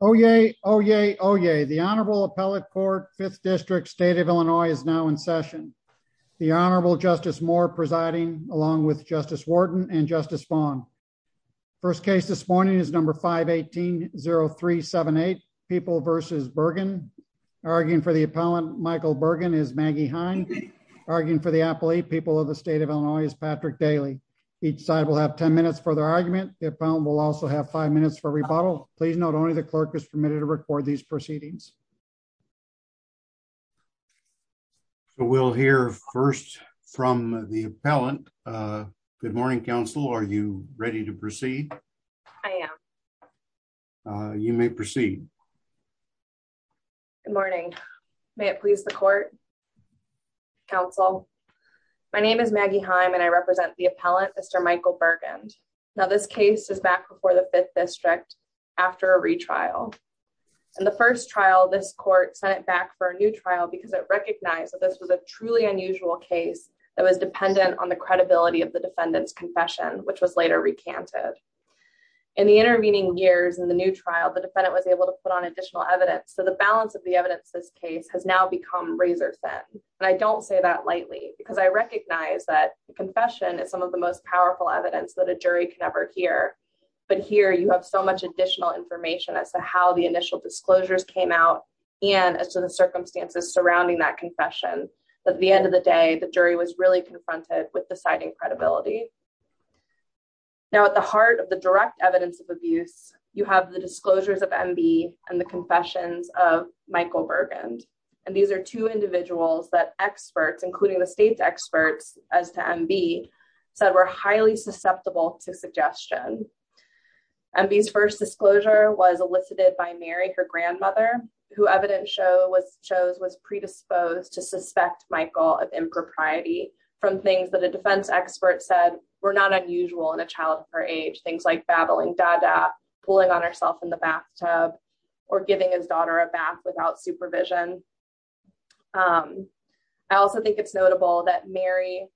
Oyez, oyez, oyez. The Honorable Appellate Court, 5th District, State of Illinois is now in session. The Honorable Justice Moore presiding along with Justice Wharton and Justice Vaughn. First case this morning is number 518-0378, People v. Burgund. Arguing for the appellant, Michael Burgund, is Maggie Heine. Arguing for the appellate, People of the State of Illinois, is Patrick Daly. Each side will have 10 minutes for their argument. The appellant will also have minutes for rebuttal. Please note only the clerk is permitted to record these proceedings. So we'll hear first from the appellant. Good morning, counsel. Are you ready to proceed? I am. You may proceed. Good morning. May it please the court, counsel. My name is Maggie Heine and I represent the appellant, Mr. Michael Burgund. Now this case is back before the 5th District after a retrial. In the first trial, this court sent it back for a new trial because it recognized that this was a truly unusual case that was dependent on the credibility of the defendant's confession, which was later recanted. In the intervening years in the new trial, the defendant was able to put on additional evidence. So the balance of the evidence in this case has now become razor thin. And I don't say that lightly because I recognize that the confession is some of the most powerful evidence that a jury can ever hear. But here you have so much additional information as to how the initial disclosures came out and as to the circumstances surrounding that confession that at the end of the day, the jury was really confronted with deciding credibility. Now at the heart of the direct evidence of abuse, you have the disclosures of MB and the confessions of Michael Burgund. And these are two individuals that experts, including the state's experts as to MB, said were highly susceptible to suggestion. MB's first disclosure was elicited by Mary, her grandmother, who evidence shows was predisposed to suspect Michael of impropriety from things that a defense expert said were not unusual in a child of her age. Things like babbling pulling on herself in the bathtub or giving his daughter a bath without supervision. I also think it's notable that Mary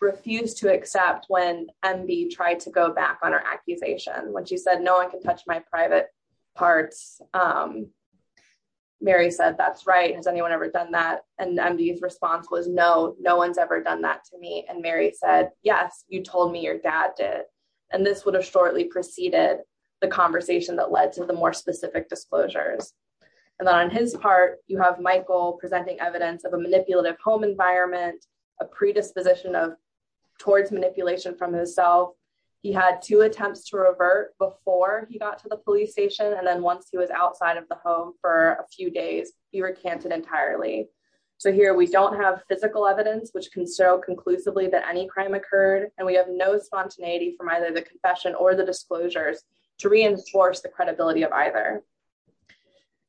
refused to accept when MB tried to go back on her accusation when she said, no one can touch my private parts. Mary said, that's right. Has anyone ever done that? And MB's response was no, no one's ever done that to me. And Mary said, yes, you told me your dad did. And this would have shortly preceded the conversation that led to the more specific disclosures. And then on his part, you have Michael presenting evidence of a manipulative home environment, a predisposition of towards manipulation from himself. He had two attempts to revert before he got to the police station. And then once he was outside of the home for a few days, he recanted entirely. So here we don't have physical evidence, which can show that any crime occurred and we have no spontaneity from either the confession or the disclosures to reinforce the credibility of either.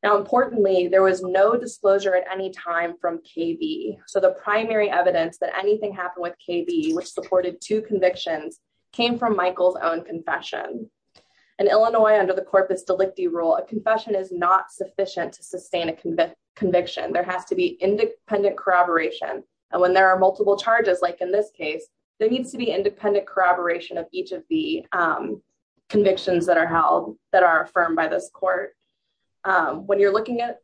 Now, importantly, there was no disclosure at any time from KB. So the primary evidence that anything happened with KB, which supported two convictions, came from Michael's own confession. In Illinois, under the Corpus Delicti rule, a confession is not sufficient to sustain a conviction. There has to be in this case, there needs to be independent corroboration of each of the convictions that are held that are affirmed by this court. When you're looking at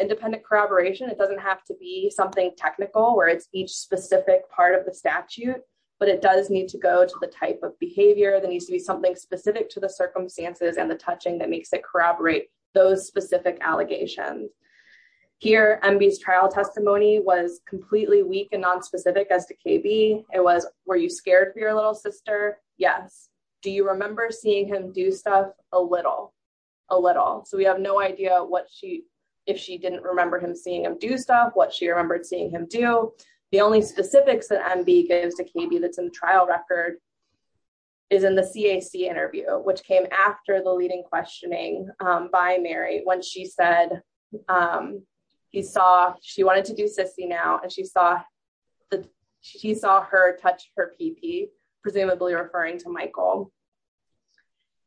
independent corroboration, it doesn't have to be something technical where it's each specific part of the statute, but it does need to go to the type of behavior that needs to be something specific to the circumstances and the touching that makes it corroborate those specific allegations. Here, MB's trial testimony was completely weak and non-specific as to KB. It was, were you scared for your little sister? Yes. Do you remember seeing him do stuff? A little, a little. So we have no idea what she, if she didn't remember him seeing him do stuff, what she remembered seeing him do. The only specifics that MB gives to KB that's in the trial record is in the CAC interview, which came after the leading questioning by Mary, when she said he saw, she wanted to do sissy now, and she saw, she saw her touch her peepee, presumably referring to Michael.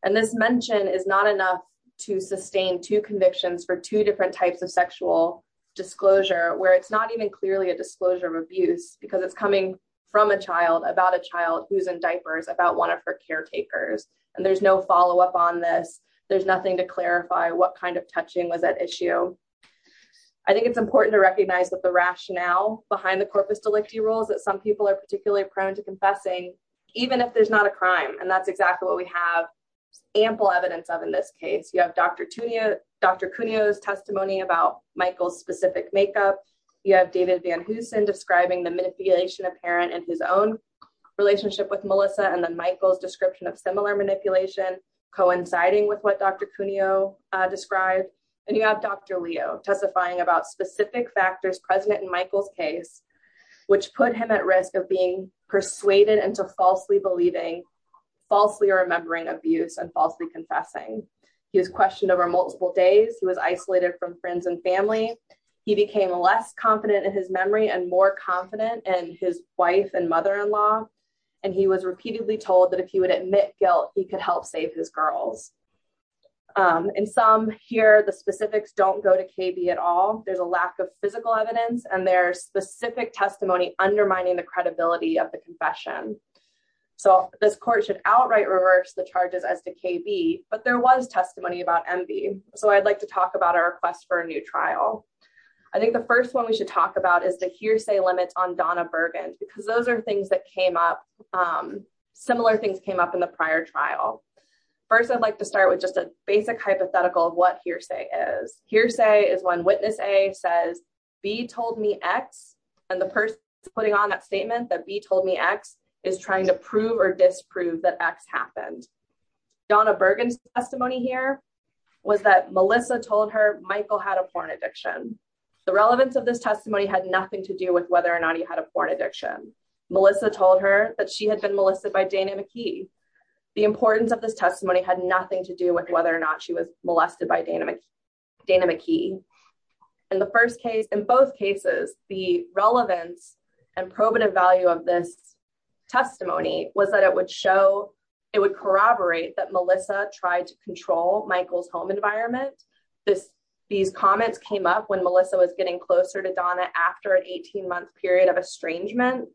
And this mention is not enough to sustain two convictions for two different types of sexual disclosure, where it's not even clearly a disclosure of abuse, because it's coming from a child, about a child who's in diapers, about one of her caretakers, and there's no follow-up on this. There's nothing to clarify what kind of touching was at issue. I think it's important to recognize that the rationale behind the corpus delicti rules that some people are particularly prone to confessing, even if there's not a crime, and that's exactly what we have ample evidence of in this case. You have Dr. Cuneo's testimony about Michael's specific makeup. You have David Van Hoosen describing the manipulation apparent in his own relationship with Melissa, and then Michael's description of similar manipulation coinciding with what Dr. Cuneo described. And you have Dr. Leo testifying about specific factors present in Michael's case, which put him at risk of being persuaded into falsely believing, falsely remembering abuse, and falsely confessing. He was questioned over multiple days. He was isolated from friends and family. He became less confident in his memory and more confident in his wife and he was repeatedly told that if he would admit guilt, he could help save his girls. In some here, the specifics don't go to KB at all. There's a lack of physical evidence and there's specific testimony undermining the credibility of the confession. So this court should outright reverse the charges as to KB, but there was testimony about MV, so I'd like to talk about our request for a new trial. I think the first one we should talk about is the hearsay limit on Donna Bergen, because those are things that came up, similar things came up in the prior trial. First, I'd like to start with just a basic hypothetical of what hearsay is. Hearsay is when witness A says B told me X, and the person putting on that statement that B told me X is trying to prove or disprove that X happened. Donna Bergen's testimony here was that Melissa told her Michael had a porn addiction. The relevance of this testimony had nothing to do with whether or not he had a porn addiction. Melissa told her that she had been molested by Dana McKee. The importance of this testimony had nothing to do with whether or not she was molested by Dana McKee. In the first case, in both cases, the relevance and probative value of this testimony was that it would corroborate that Melissa tried to control Donna after an 18-month period of estrangement.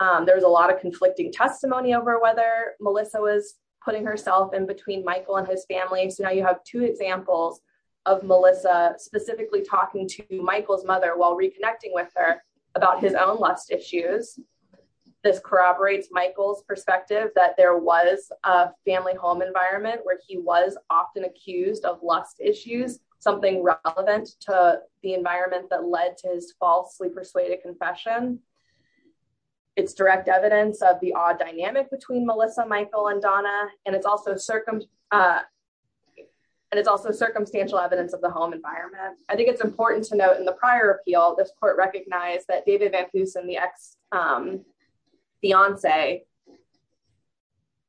There was a lot of conflicting testimony over whether Melissa was putting herself in between Michael and his family. Now you have two examples of Melissa specifically talking to Michael's mother while reconnecting with her about his own lust issues. This corroborates Michael's perspective that there was a family home environment where he was often accused of lust issues, something relevant to the environment that led to his falsely persuaded confession. It's direct evidence of the odd dynamic between Melissa, Michael, and Donna, and it's also circumstantial evidence of the home environment. I think it's important to note in the prior appeal, this court recognized that David Van Hoosen, the ex-fiance,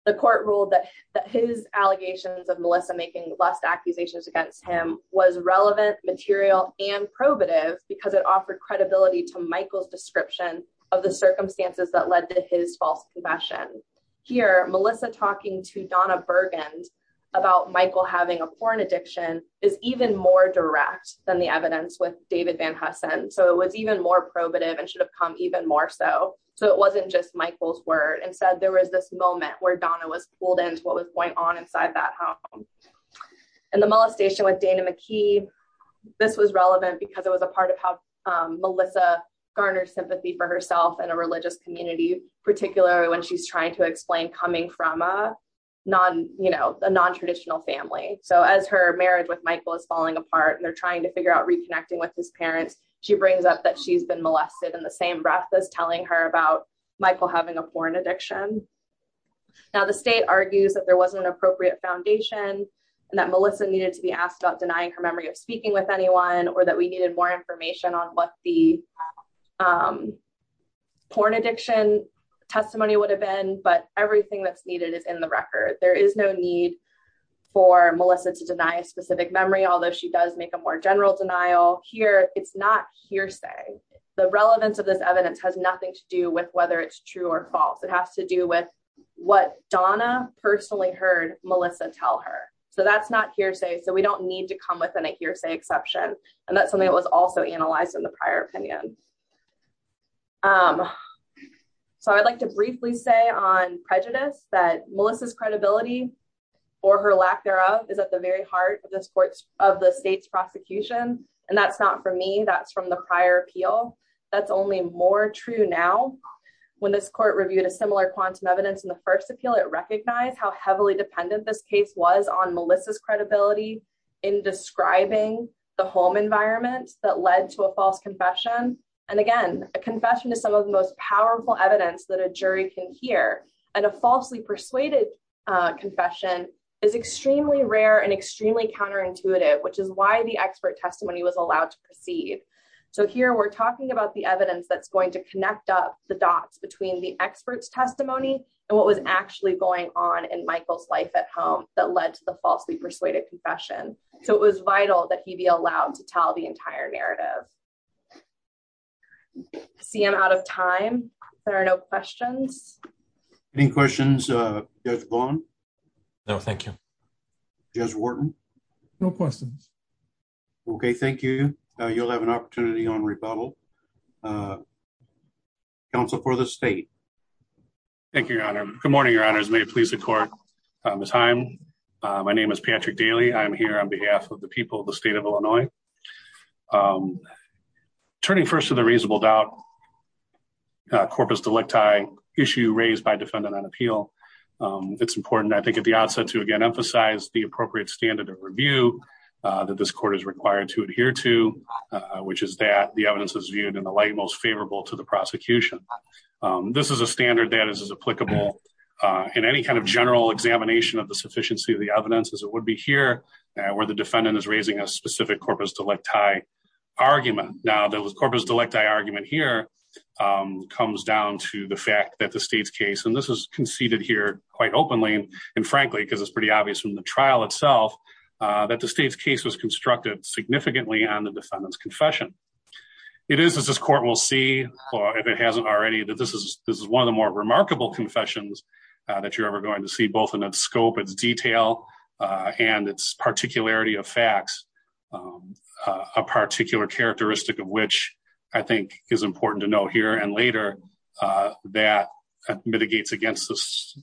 the court ruled that his allegations of Melissa making lust accusations against him was relevant, material, and probative because it offered credibility to Michael's description of the circumstances that led to his false confession. Here, Melissa talking to Donna Burgund about Michael having a porn addiction is even more direct than the evidence with David Van Hoosen, so it was even more probative and should have come even more so. So it wasn't just Michael's word. Instead, there was this moment where Donna was pulled into what the molestation with Dana McKee, this was relevant because it was a part of how Melissa garnered sympathy for herself in a religious community, particularly when she's trying to explain coming from a non-traditional family. So as her marriage with Michael is falling apart and they're trying to figure out reconnecting with his parents, she brings up that she's been molested in the same breath as telling her about Michael having a porn addiction. Now, the state argues that there wasn't an appropriate foundation and that Melissa needed to be asked about denying her memory of speaking with anyone or that we needed more information on what the porn addiction testimony would have been, but everything that's needed is in the record. There is no need for Melissa to deny a specific memory, although she does make a more general denial. Here, it's not hearsay. The relevance of this evidence has nothing to do with whether it's true or false. It has to do with what Donna personally heard Melissa tell her. So that's not hearsay. So we don't need to come within a hearsay exception. And that's something that was also analyzed in the prior opinion. So I'd like to briefly say on prejudice that Melissa's credibility or her lack thereof is at the very heart of the state's prosecution. And that's not for me, that's from the prior appeal. That's only more true now. When this court reviewed a similar quantum evidence in the first appeal, it recognized how heavily dependent this case was on Melissa's credibility in describing the home environment that led to a false confession. And again, a confession is some of the most powerful evidence that a jury can hear. And a falsely persuaded confession is extremely rare and extremely counterintuitive, which is why the expert testimony was allowed to proceed. So here we're talking about the evidence that's going to connect up the dots between the expert's testimony and what was actually going on in Michael's life at home that led to the falsely persuaded confession. So it was vital that he be allowed to tell the entire narrative. I see I'm out of time. There are no questions. Any questions? Judge Vaughn? No, thank you. Judge Wharton? No questions. Okay, thank you. You'll have an opportunity on rebuttal. Counsel for the state. Thank you, your honor. Good morning, your honors. May it please the court. Ms. Heim, my name is Patrick Daly. I'm here on behalf of the people of the state of Illinois. Turning first to the reasonable doubt, corpus delicti issue raised by the state's case. It's important, I think, at the outset to, again, emphasize the appropriate standard of review that this court is required to adhere to, which is that the evidence is viewed in the light most favorable to the prosecution. This is a standard that is as applicable in any kind of general examination of the sufficiency of the evidence as it would be here, where the defendant is raising a specific corpus delicti argument. Now, the corpus delicti here comes down to the fact that the state's case, and this is conceded here quite openly and frankly, because it's pretty obvious from the trial itself, that the state's case was constructed significantly on the defendant's confession. It is, as this court will see, or if it hasn't already, that this is one of the more remarkable confessions that you're ever going to see, both in its scope, its detail, and its particularity of facts, a particular characteristic of which I think is important to know here and later, that mitigates against this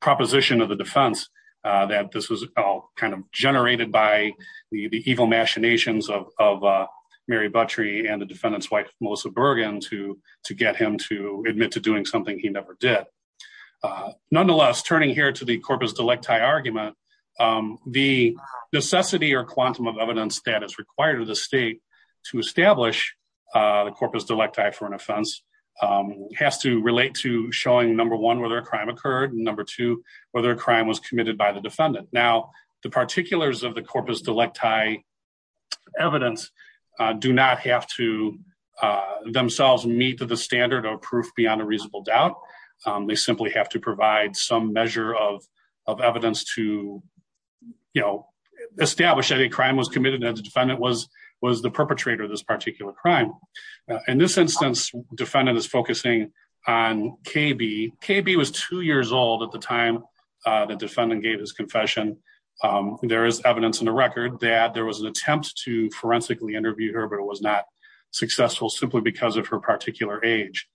proposition of the defense, that this was all kind of generated by the evil machinations of Mary Buttrey and the defendant's wife, Melissa Bergen, to get him to admit to doing something he never did. Nonetheless, turning here to the corpus delicti argument, the necessity or quantum of evidence that is required of the state to establish the corpus delicti for an offense has to relate to showing, number one, whether a crime occurred, and number two, whether a crime was committed by the defendant. Now, the particulars of the corpus delicti evidence do not have to themselves meet the standard of proof beyond a reasonable doubt. They simply have to provide some measure of evidence to establish that a crime was committed and the defendant was the perpetrator of this particular crime. In this instance, the defendant is focusing on KB. KB was two years old at the time the defendant gave his confession. There is evidence in the record that there was an attempt to forensically interview her, but it was not successful, simply because of her particular age.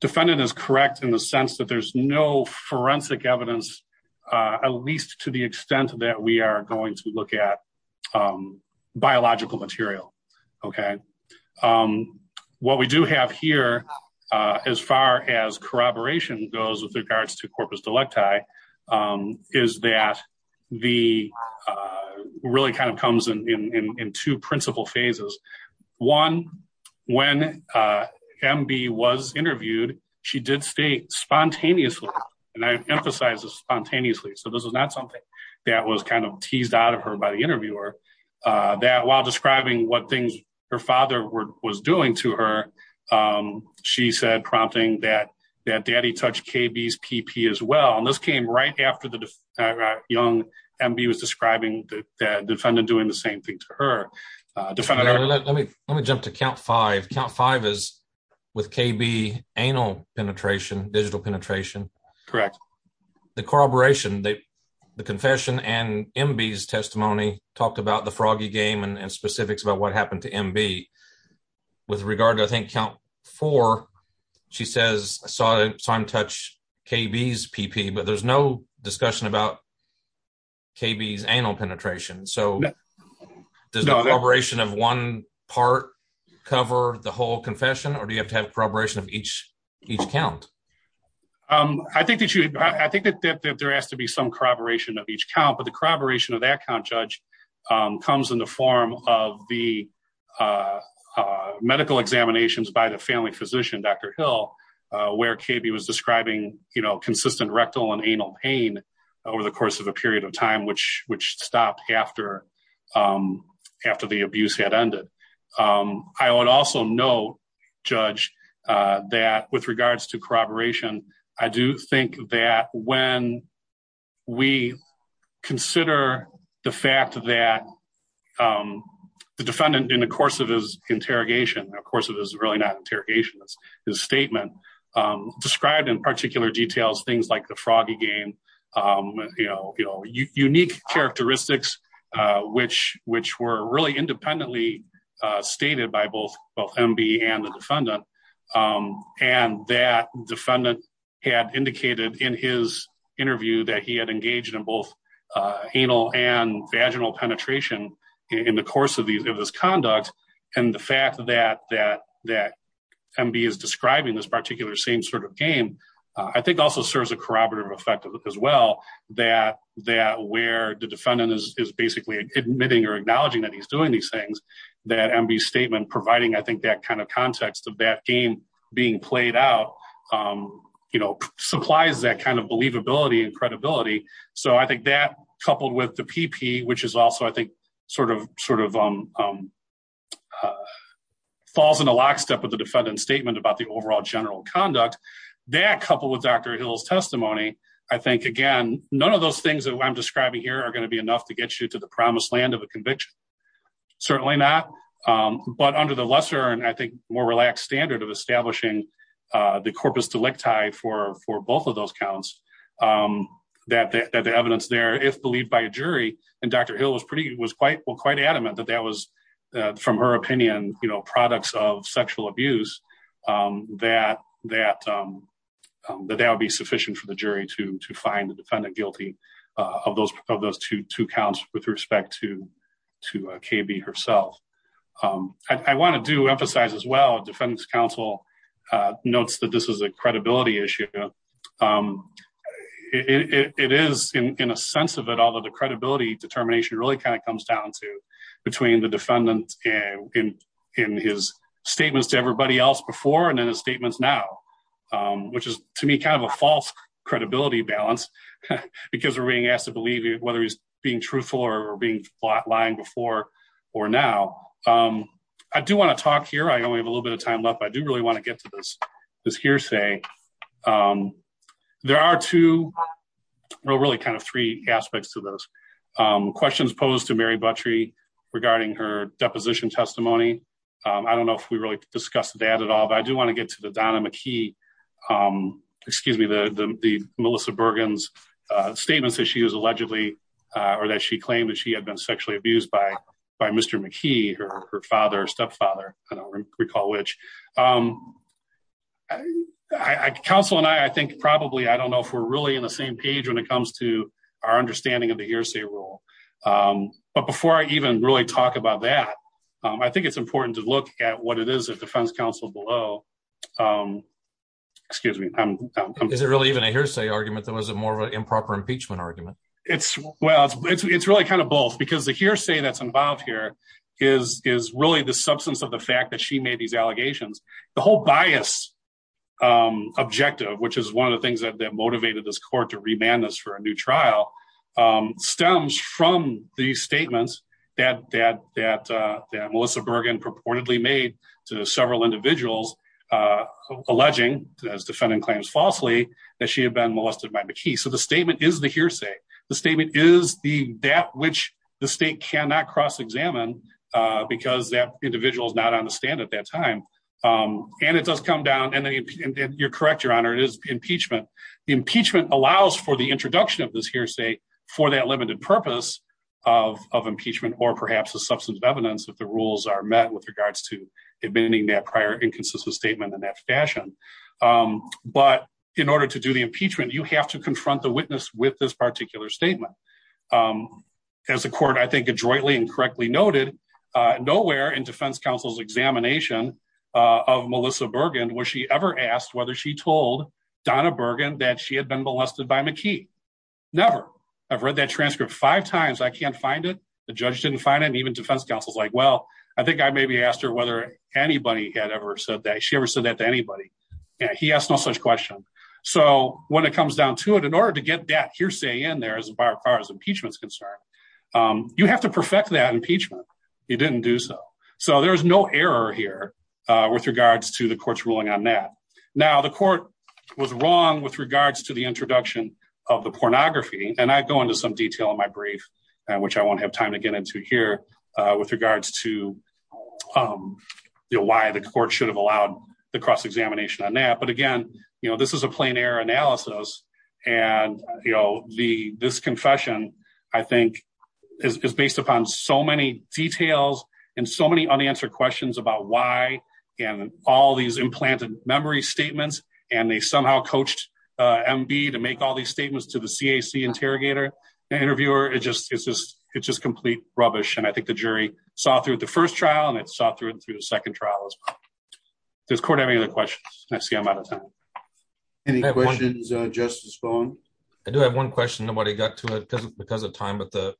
Defendant is correct in the sense that there's no forensic evidence, at least to the extent that we are going to look at biological material. Okay. What we do have here, as far as corroboration goes with regards to corpus delicti, is that the really kind of comes in two principal phases. One, when MB was interviewed, she did state spontaneously, and I emphasize this spontaneously, so this is not something that was kind of teased out of her by the interviewer, that while describing what things her father was doing to her, she said, prompting that that daddy touched KB's PP as well, and this came right after the young MB was describing the defendant doing the same thing to her. Let me jump to count five. Count five is with KB anal penetration, digital penetration. Correct. The corroboration, the confession and MB's testimony talked about the froggy game and specifics about what happened to MB. With regard to, I think, count four, she says, I saw him touch KB's PP, but there's no discussion about KB's anal penetration, so does the corroboration of one part cover the whole confession, or do you have to have corroboration of each count? I think that there has to be some corroboration of each count, but the corroboration of that count, Judge, comes in the form of the medical examinations by the family physician, Dr. Hill, where KB was describing consistent rectal and anal pain over the course of a period of time, which stopped after the abuse had ended. I would also note, Judge, that with the fact that the defendant, in the course of his interrogation, described in particular details, things like the froggy game, unique characteristics, which were really independently stated by both MB and the defendant, and that defendant had indicated in his interview that he had engaged in both anal and vaginal penetration in the course of his conduct, and the fact that MB is describing this particular same sort of game, I think also serves a corroborative effect as well, that where the defendant is basically admitting or acknowledging that he's doing these things, that MB's statement providing, I think, that kind of So I think that, coupled with the PP, which is also, I think, sort of falls in a lockstep with the defendant's statement about the overall general conduct, that, coupled with Dr. Hill's testimony, I think, again, none of those things that I'm describing here are going to be enough to get you to the promised land of a conviction. Certainly not, but under the lesser and, I think, more relaxed standard of establishing the corpus delicti for both of those counts, that the evidence there, if believed by a jury, and Dr. Hill was quite adamant that that was, from her opinion, products of sexual abuse, that that would be sufficient for the jury to find the defendant guilty of those two counts with respect to KB herself. I want to emphasize as well, defendant's counsel notes that this is a credibility issue. It is, in a sense of it, although the credibility determination really kind of comes down to between the defendant in his statements to everybody else before and in his statements now, which is, to me, kind of a false credibility balance, because we're being asked to believe whether he's being truthful or being lying before or now. I do want to talk here. I only have a little bit of time left, but I do really want to get to this hearsay. There are two, well, really kind of three aspects to this. Questions posed to Mary Buttrey regarding her deposition testimony. I don't know if we really discussed that at all, but I do want to get to Donna McKee, excuse me, the Melissa Bergen's statements that she was allegedly, or that she claimed that she had been sexually abused by Mr. McKee, her father, stepfather, I don't recall which. Counsel and I, I think probably, I don't know if we're really in the same page when it comes to our understanding of the hearsay rule. But before I even really talk about that, I think it's important to look at what it is at defense counsel below. Excuse me. Is it really even a hearsay argument that was a more of an improper impeachment argument? It's well, it's really kind of both because the hearsay that's involved here is really the substance of the fact that she made these allegations. The whole bias objective, which is one of the things that motivated this court to remand this for a new trial, stems from the statements that Melissa Bergen purportedly made to several individuals alleging, as defendant claims falsely, that she had been molested by McKee. So the statement is the hearsay. The statement is that which the state cannot cross-examine because that individual is not on the stand at that time. And it does come down, and you're correct, Your Honor, it is allows for the introduction of this hearsay for that limited purpose of impeachment or perhaps a substance of evidence if the rules are met with regards to admitting that prior inconsistent statement in that fashion. But in order to do the impeachment, you have to confront the witness with this particular statement. As the court, I think, adroitly and correctly noted, nowhere in defense counsel's examination of Melissa Bergen was she ever asked whether she told Donna Bergen that she had been molested by McKee. Never. I've read that transcript five times. I can't find it. The judge didn't find it. And even defense counsel's like, well, I think I maybe asked her whether anybody had ever said that she ever said that to anybody. He asked no such question. So when it comes down to it, in order to get that hearsay in there as far as impeachment's concerned, you have to perfect that impeachment. He didn't do so. So there's no error here with regards to the court's ruling on that. Now, the court was wrong with regards to the introduction of the pornography. And I go into some detail in my brief, which I won't have time to get into here with regards to why the court should have allowed the cross-examination on that. But again, you know, this is a plain error analysis. And, you know, this confession, I think, is based upon so many details and so many unanswered questions about why and all these implanted memory statements. And they somehow coached MB to make all these statements to the CAC interrogator and interviewer. It's just complete rubbish. And I think the jury saw through the first trial and it saw through it through the second trial as well. Does court have any other questions? I see I'm out of time. Any questions, Justice Bowen? I do have one question. Nobody got to it because of time, but the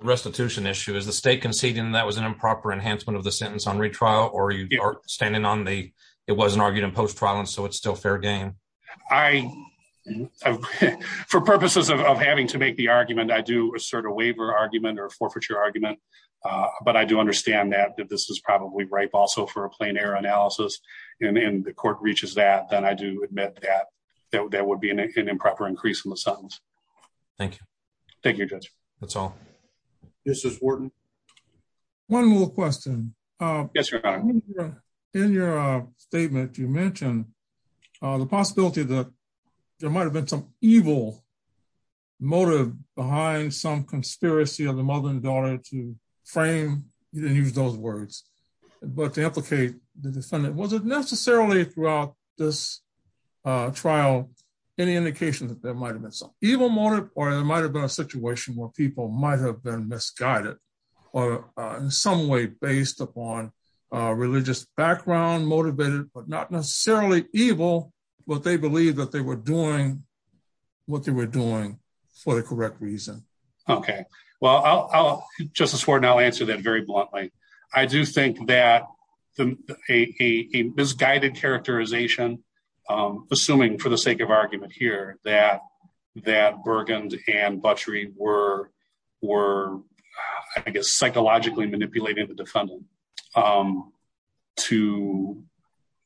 restitution issue is the state conceding that was an improper enhancement of the sentence on retrial or you are standing on the, it wasn't argued in post-trial. And so it's still fair game. I, for purposes of having to make the argument, I do assert a waiver argument or a forfeiture argument. But I do understand that this is probably ripe also for a plain error analysis. And then the court reaches that, then I do admit that that would be an improper increase in the sentence. Thank you. Thank you, Judge. That's all. Justice Wharton. One more question. Yes, Your Honor. In your statement, you mentioned the possibility that there might've been some evil motive behind some conspiracy of the mother and daughter to use those words, but to implicate the defendant, was it necessarily throughout this trial, any indication that there might've been some evil motive or there might've been a situation where people might've been misguided or in some way based upon a religious background motivated, but not necessarily evil, but they believe that they were doing what they were doing for the correct reason? Okay. Well, Justice Wharton, I'll answer that very bluntly. I do think that a misguided characterization, assuming for the sake of argument here, that Burgund and Buttrey were, I guess, psychologically manipulating the defendant to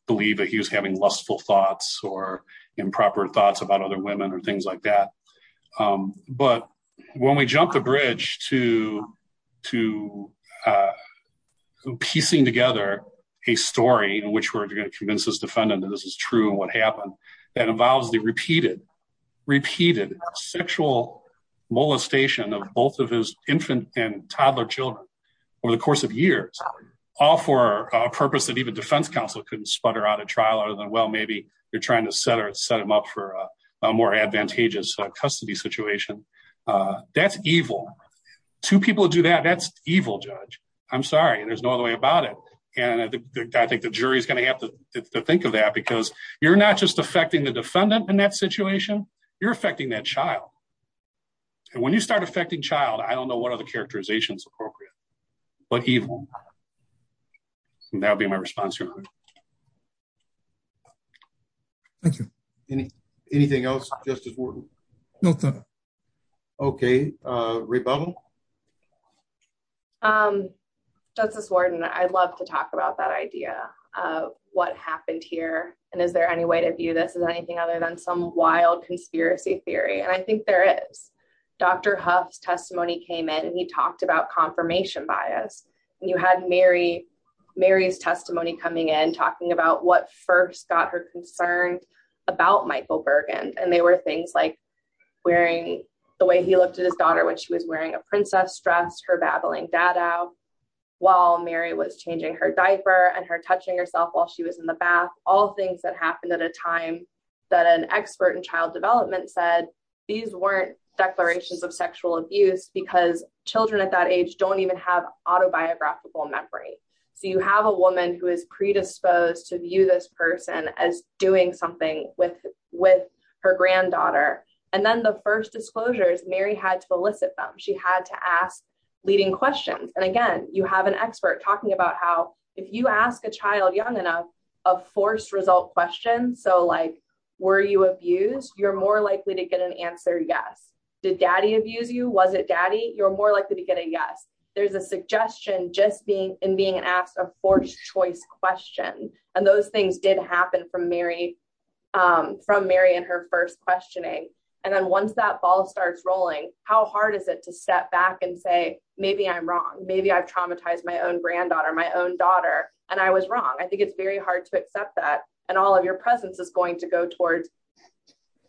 believe that he was having lustful thoughts or improper thoughts about other women or things like that. But when we jumped the bridge to piecing together a story in which we're going to convince this defendant that this is true and what happened, that involves the repeated, repeated sexual molestation of both of his infant and toddler children over the course of years, all for a purpose that even defense counsel couldn't sputter out at trial other than, maybe they're trying to set him up for a more advantageous custody situation. That's evil. Two people to do that, that's evil, Judge. I'm sorry. And there's no other way about it. And I think the jury is going to have to think of that because you're not just affecting the defendant in that situation, you're affecting that child. And when you start affecting child, I don't know what other characterization is appropriate, but evil. And that would be my response. Thank you. Anything else, Justice Wharton? No, sir. Okay. Rebubble? Justice Wharton, I'd love to talk about that idea of what happened here. And is there any way to view this as anything other than some wild conspiracy theory? And I think there is. Dr. Huff's testimony came in and he talked about confirmation bias. And you had Mary's testimony coming in talking about what first got her concerned about Michael Bergen. And they were things like wearing, the way he looked at his daughter when she was wearing a princess dress, her babbling dad out while Mary was changing her diaper and her touching herself while she was in the bath. All things that happened at a time that an expert in child development said, these weren't declarations of sexual abuse because children at that age don't even have predisposed to view this person as doing something with her granddaughter. And then the first disclosures, Mary had to elicit them. She had to ask leading questions. And again, you have an expert talking about how if you ask a child young enough, a forced result question, so like, were you abused? You're more likely to get an answer. Yes. Did daddy abuse you? Was it daddy? You're more likely to get a yes. There's a suggestion just being in being asked a forced choice question. And those things did happen from Mary and her first questioning. And then once that ball starts rolling, how hard is it to step back and say, maybe I'm wrong. Maybe I've traumatized my own granddaughter, my own daughter, and I was wrong. I think it's very hard to accept that. And all of your presence is going to go towards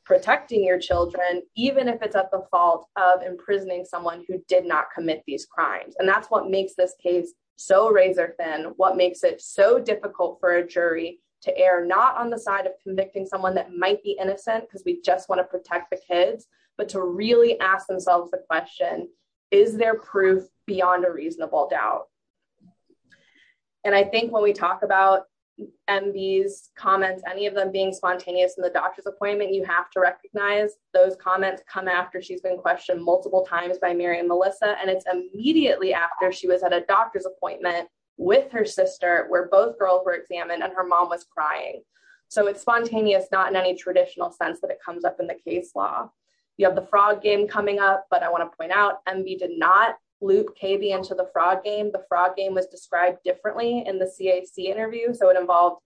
protecting your children, even if it's at the fault of imprisoning someone who did not commit these crimes. And that's what makes this case so razor thin, what makes it so difficult for a jury to err not on the side of convicting someone that might be innocent, because we just want to protect the kids, but to really ask themselves the question, is there proof beyond a reasonable doubt? And I think when we talk about MBs comments, any of them being spontaneous in the doctor's appointment, you have to recognize those comments come after she's been questioned multiple times by Mary and Melissa. And it's a doctor's appointment with her sister, where both girls were examined and her mom was crying. So it's spontaneous, not in any traditional sense that it comes up in the case law. You have the frog game coming up. But I want to point out MB did not loop KB into the frog game. The frog game was described differently in the CAC interview. So it involved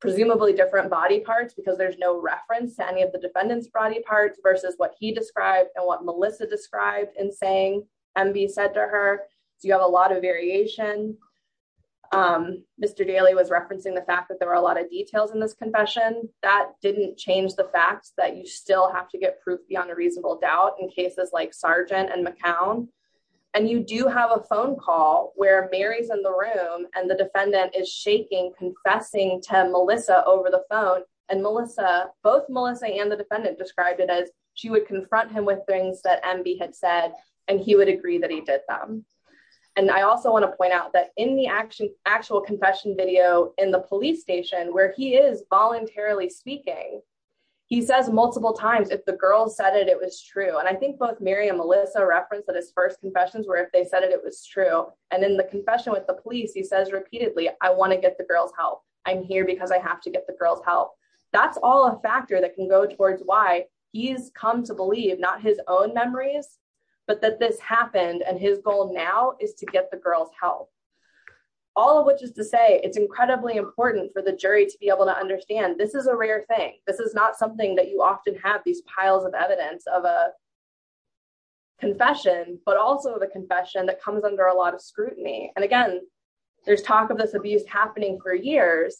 presumably different body parts, because there's no reference to any of the defendant's body parts versus what he described in saying MB said to her, you have a lot of variation. Mr. Daly was referencing the fact that there were a lot of details in this confession. That didn't change the fact that you still have to get proof beyond a reasonable doubt in cases like Sargent and McCown. And you do have a phone call where Mary's in the room, and the defendant is shaking, confessing to Melissa over the phone. And Melissa, both Melissa and the defendant described it as she would confront him with things that MB had said, and he would agree that he did them. And I also want to point out that in the actual confession video in the police station, where he is voluntarily speaking, he says multiple times, if the girls said it, it was true. And I think both Mary and Melissa referenced that his first confessions were if they said it, it was true. And in the confession with the police, he says repeatedly, I want to get the girls help. I'm here because I have to get the help. That's all a factor that can go towards why he's come to believe not his own memories, but that this happened. And his goal now is to get the girls help. All of which is to say it's incredibly important for the jury to be able to understand this is a rare thing. This is not something that you often have these piles of evidence of a confession, but also the confession that comes under a lot of scrutiny. And again, there's talk of this abuse happening for years.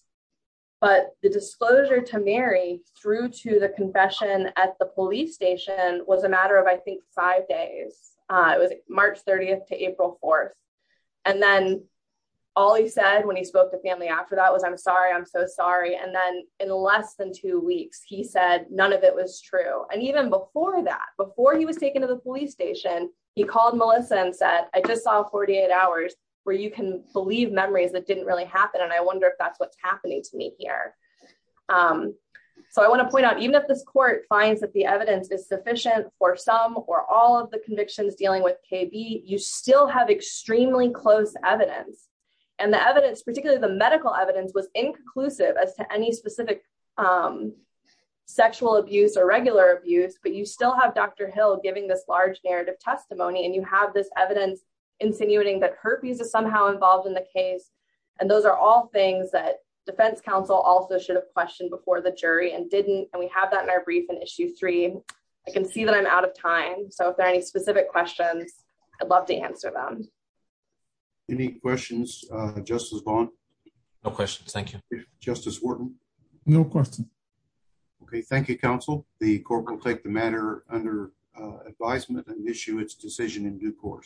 But the disclosure to Mary through to the confession at the police station was a matter of I think five days. It was March 30 to April 4. And then all he said when he spoke to family after that was, I'm sorry, I'm so sorry. And then in less than two weeks, he said none of it was true. And even before that, before he was taken to the police station, he called Melissa and said, I just saw 48 hours where you can believe memories that didn't really happen. And I can't. So I want to point out even if this court finds that the evidence is sufficient for some or all of the convictions dealing with KB, you still have extremely close evidence. And the evidence, particularly the medical evidence was inconclusive as to any specific sexual abuse or regular abuse, but you still have Dr. Hill giving this large narrative testimony and you have this evidence insinuating that herpes is somehow involved in the case. And those are all things that counsel also should have questioned before the jury and didn't. And we have that in our brief in issue three, I can see that I'm out of time. So if there are any specific questions, I'd love to answer them. Any questions, Justice Vaughn? No questions. Thank you, Justice Wharton. No question. Okay. Thank you, counsel. The court will take the matter under advisement and issue its decision in due course.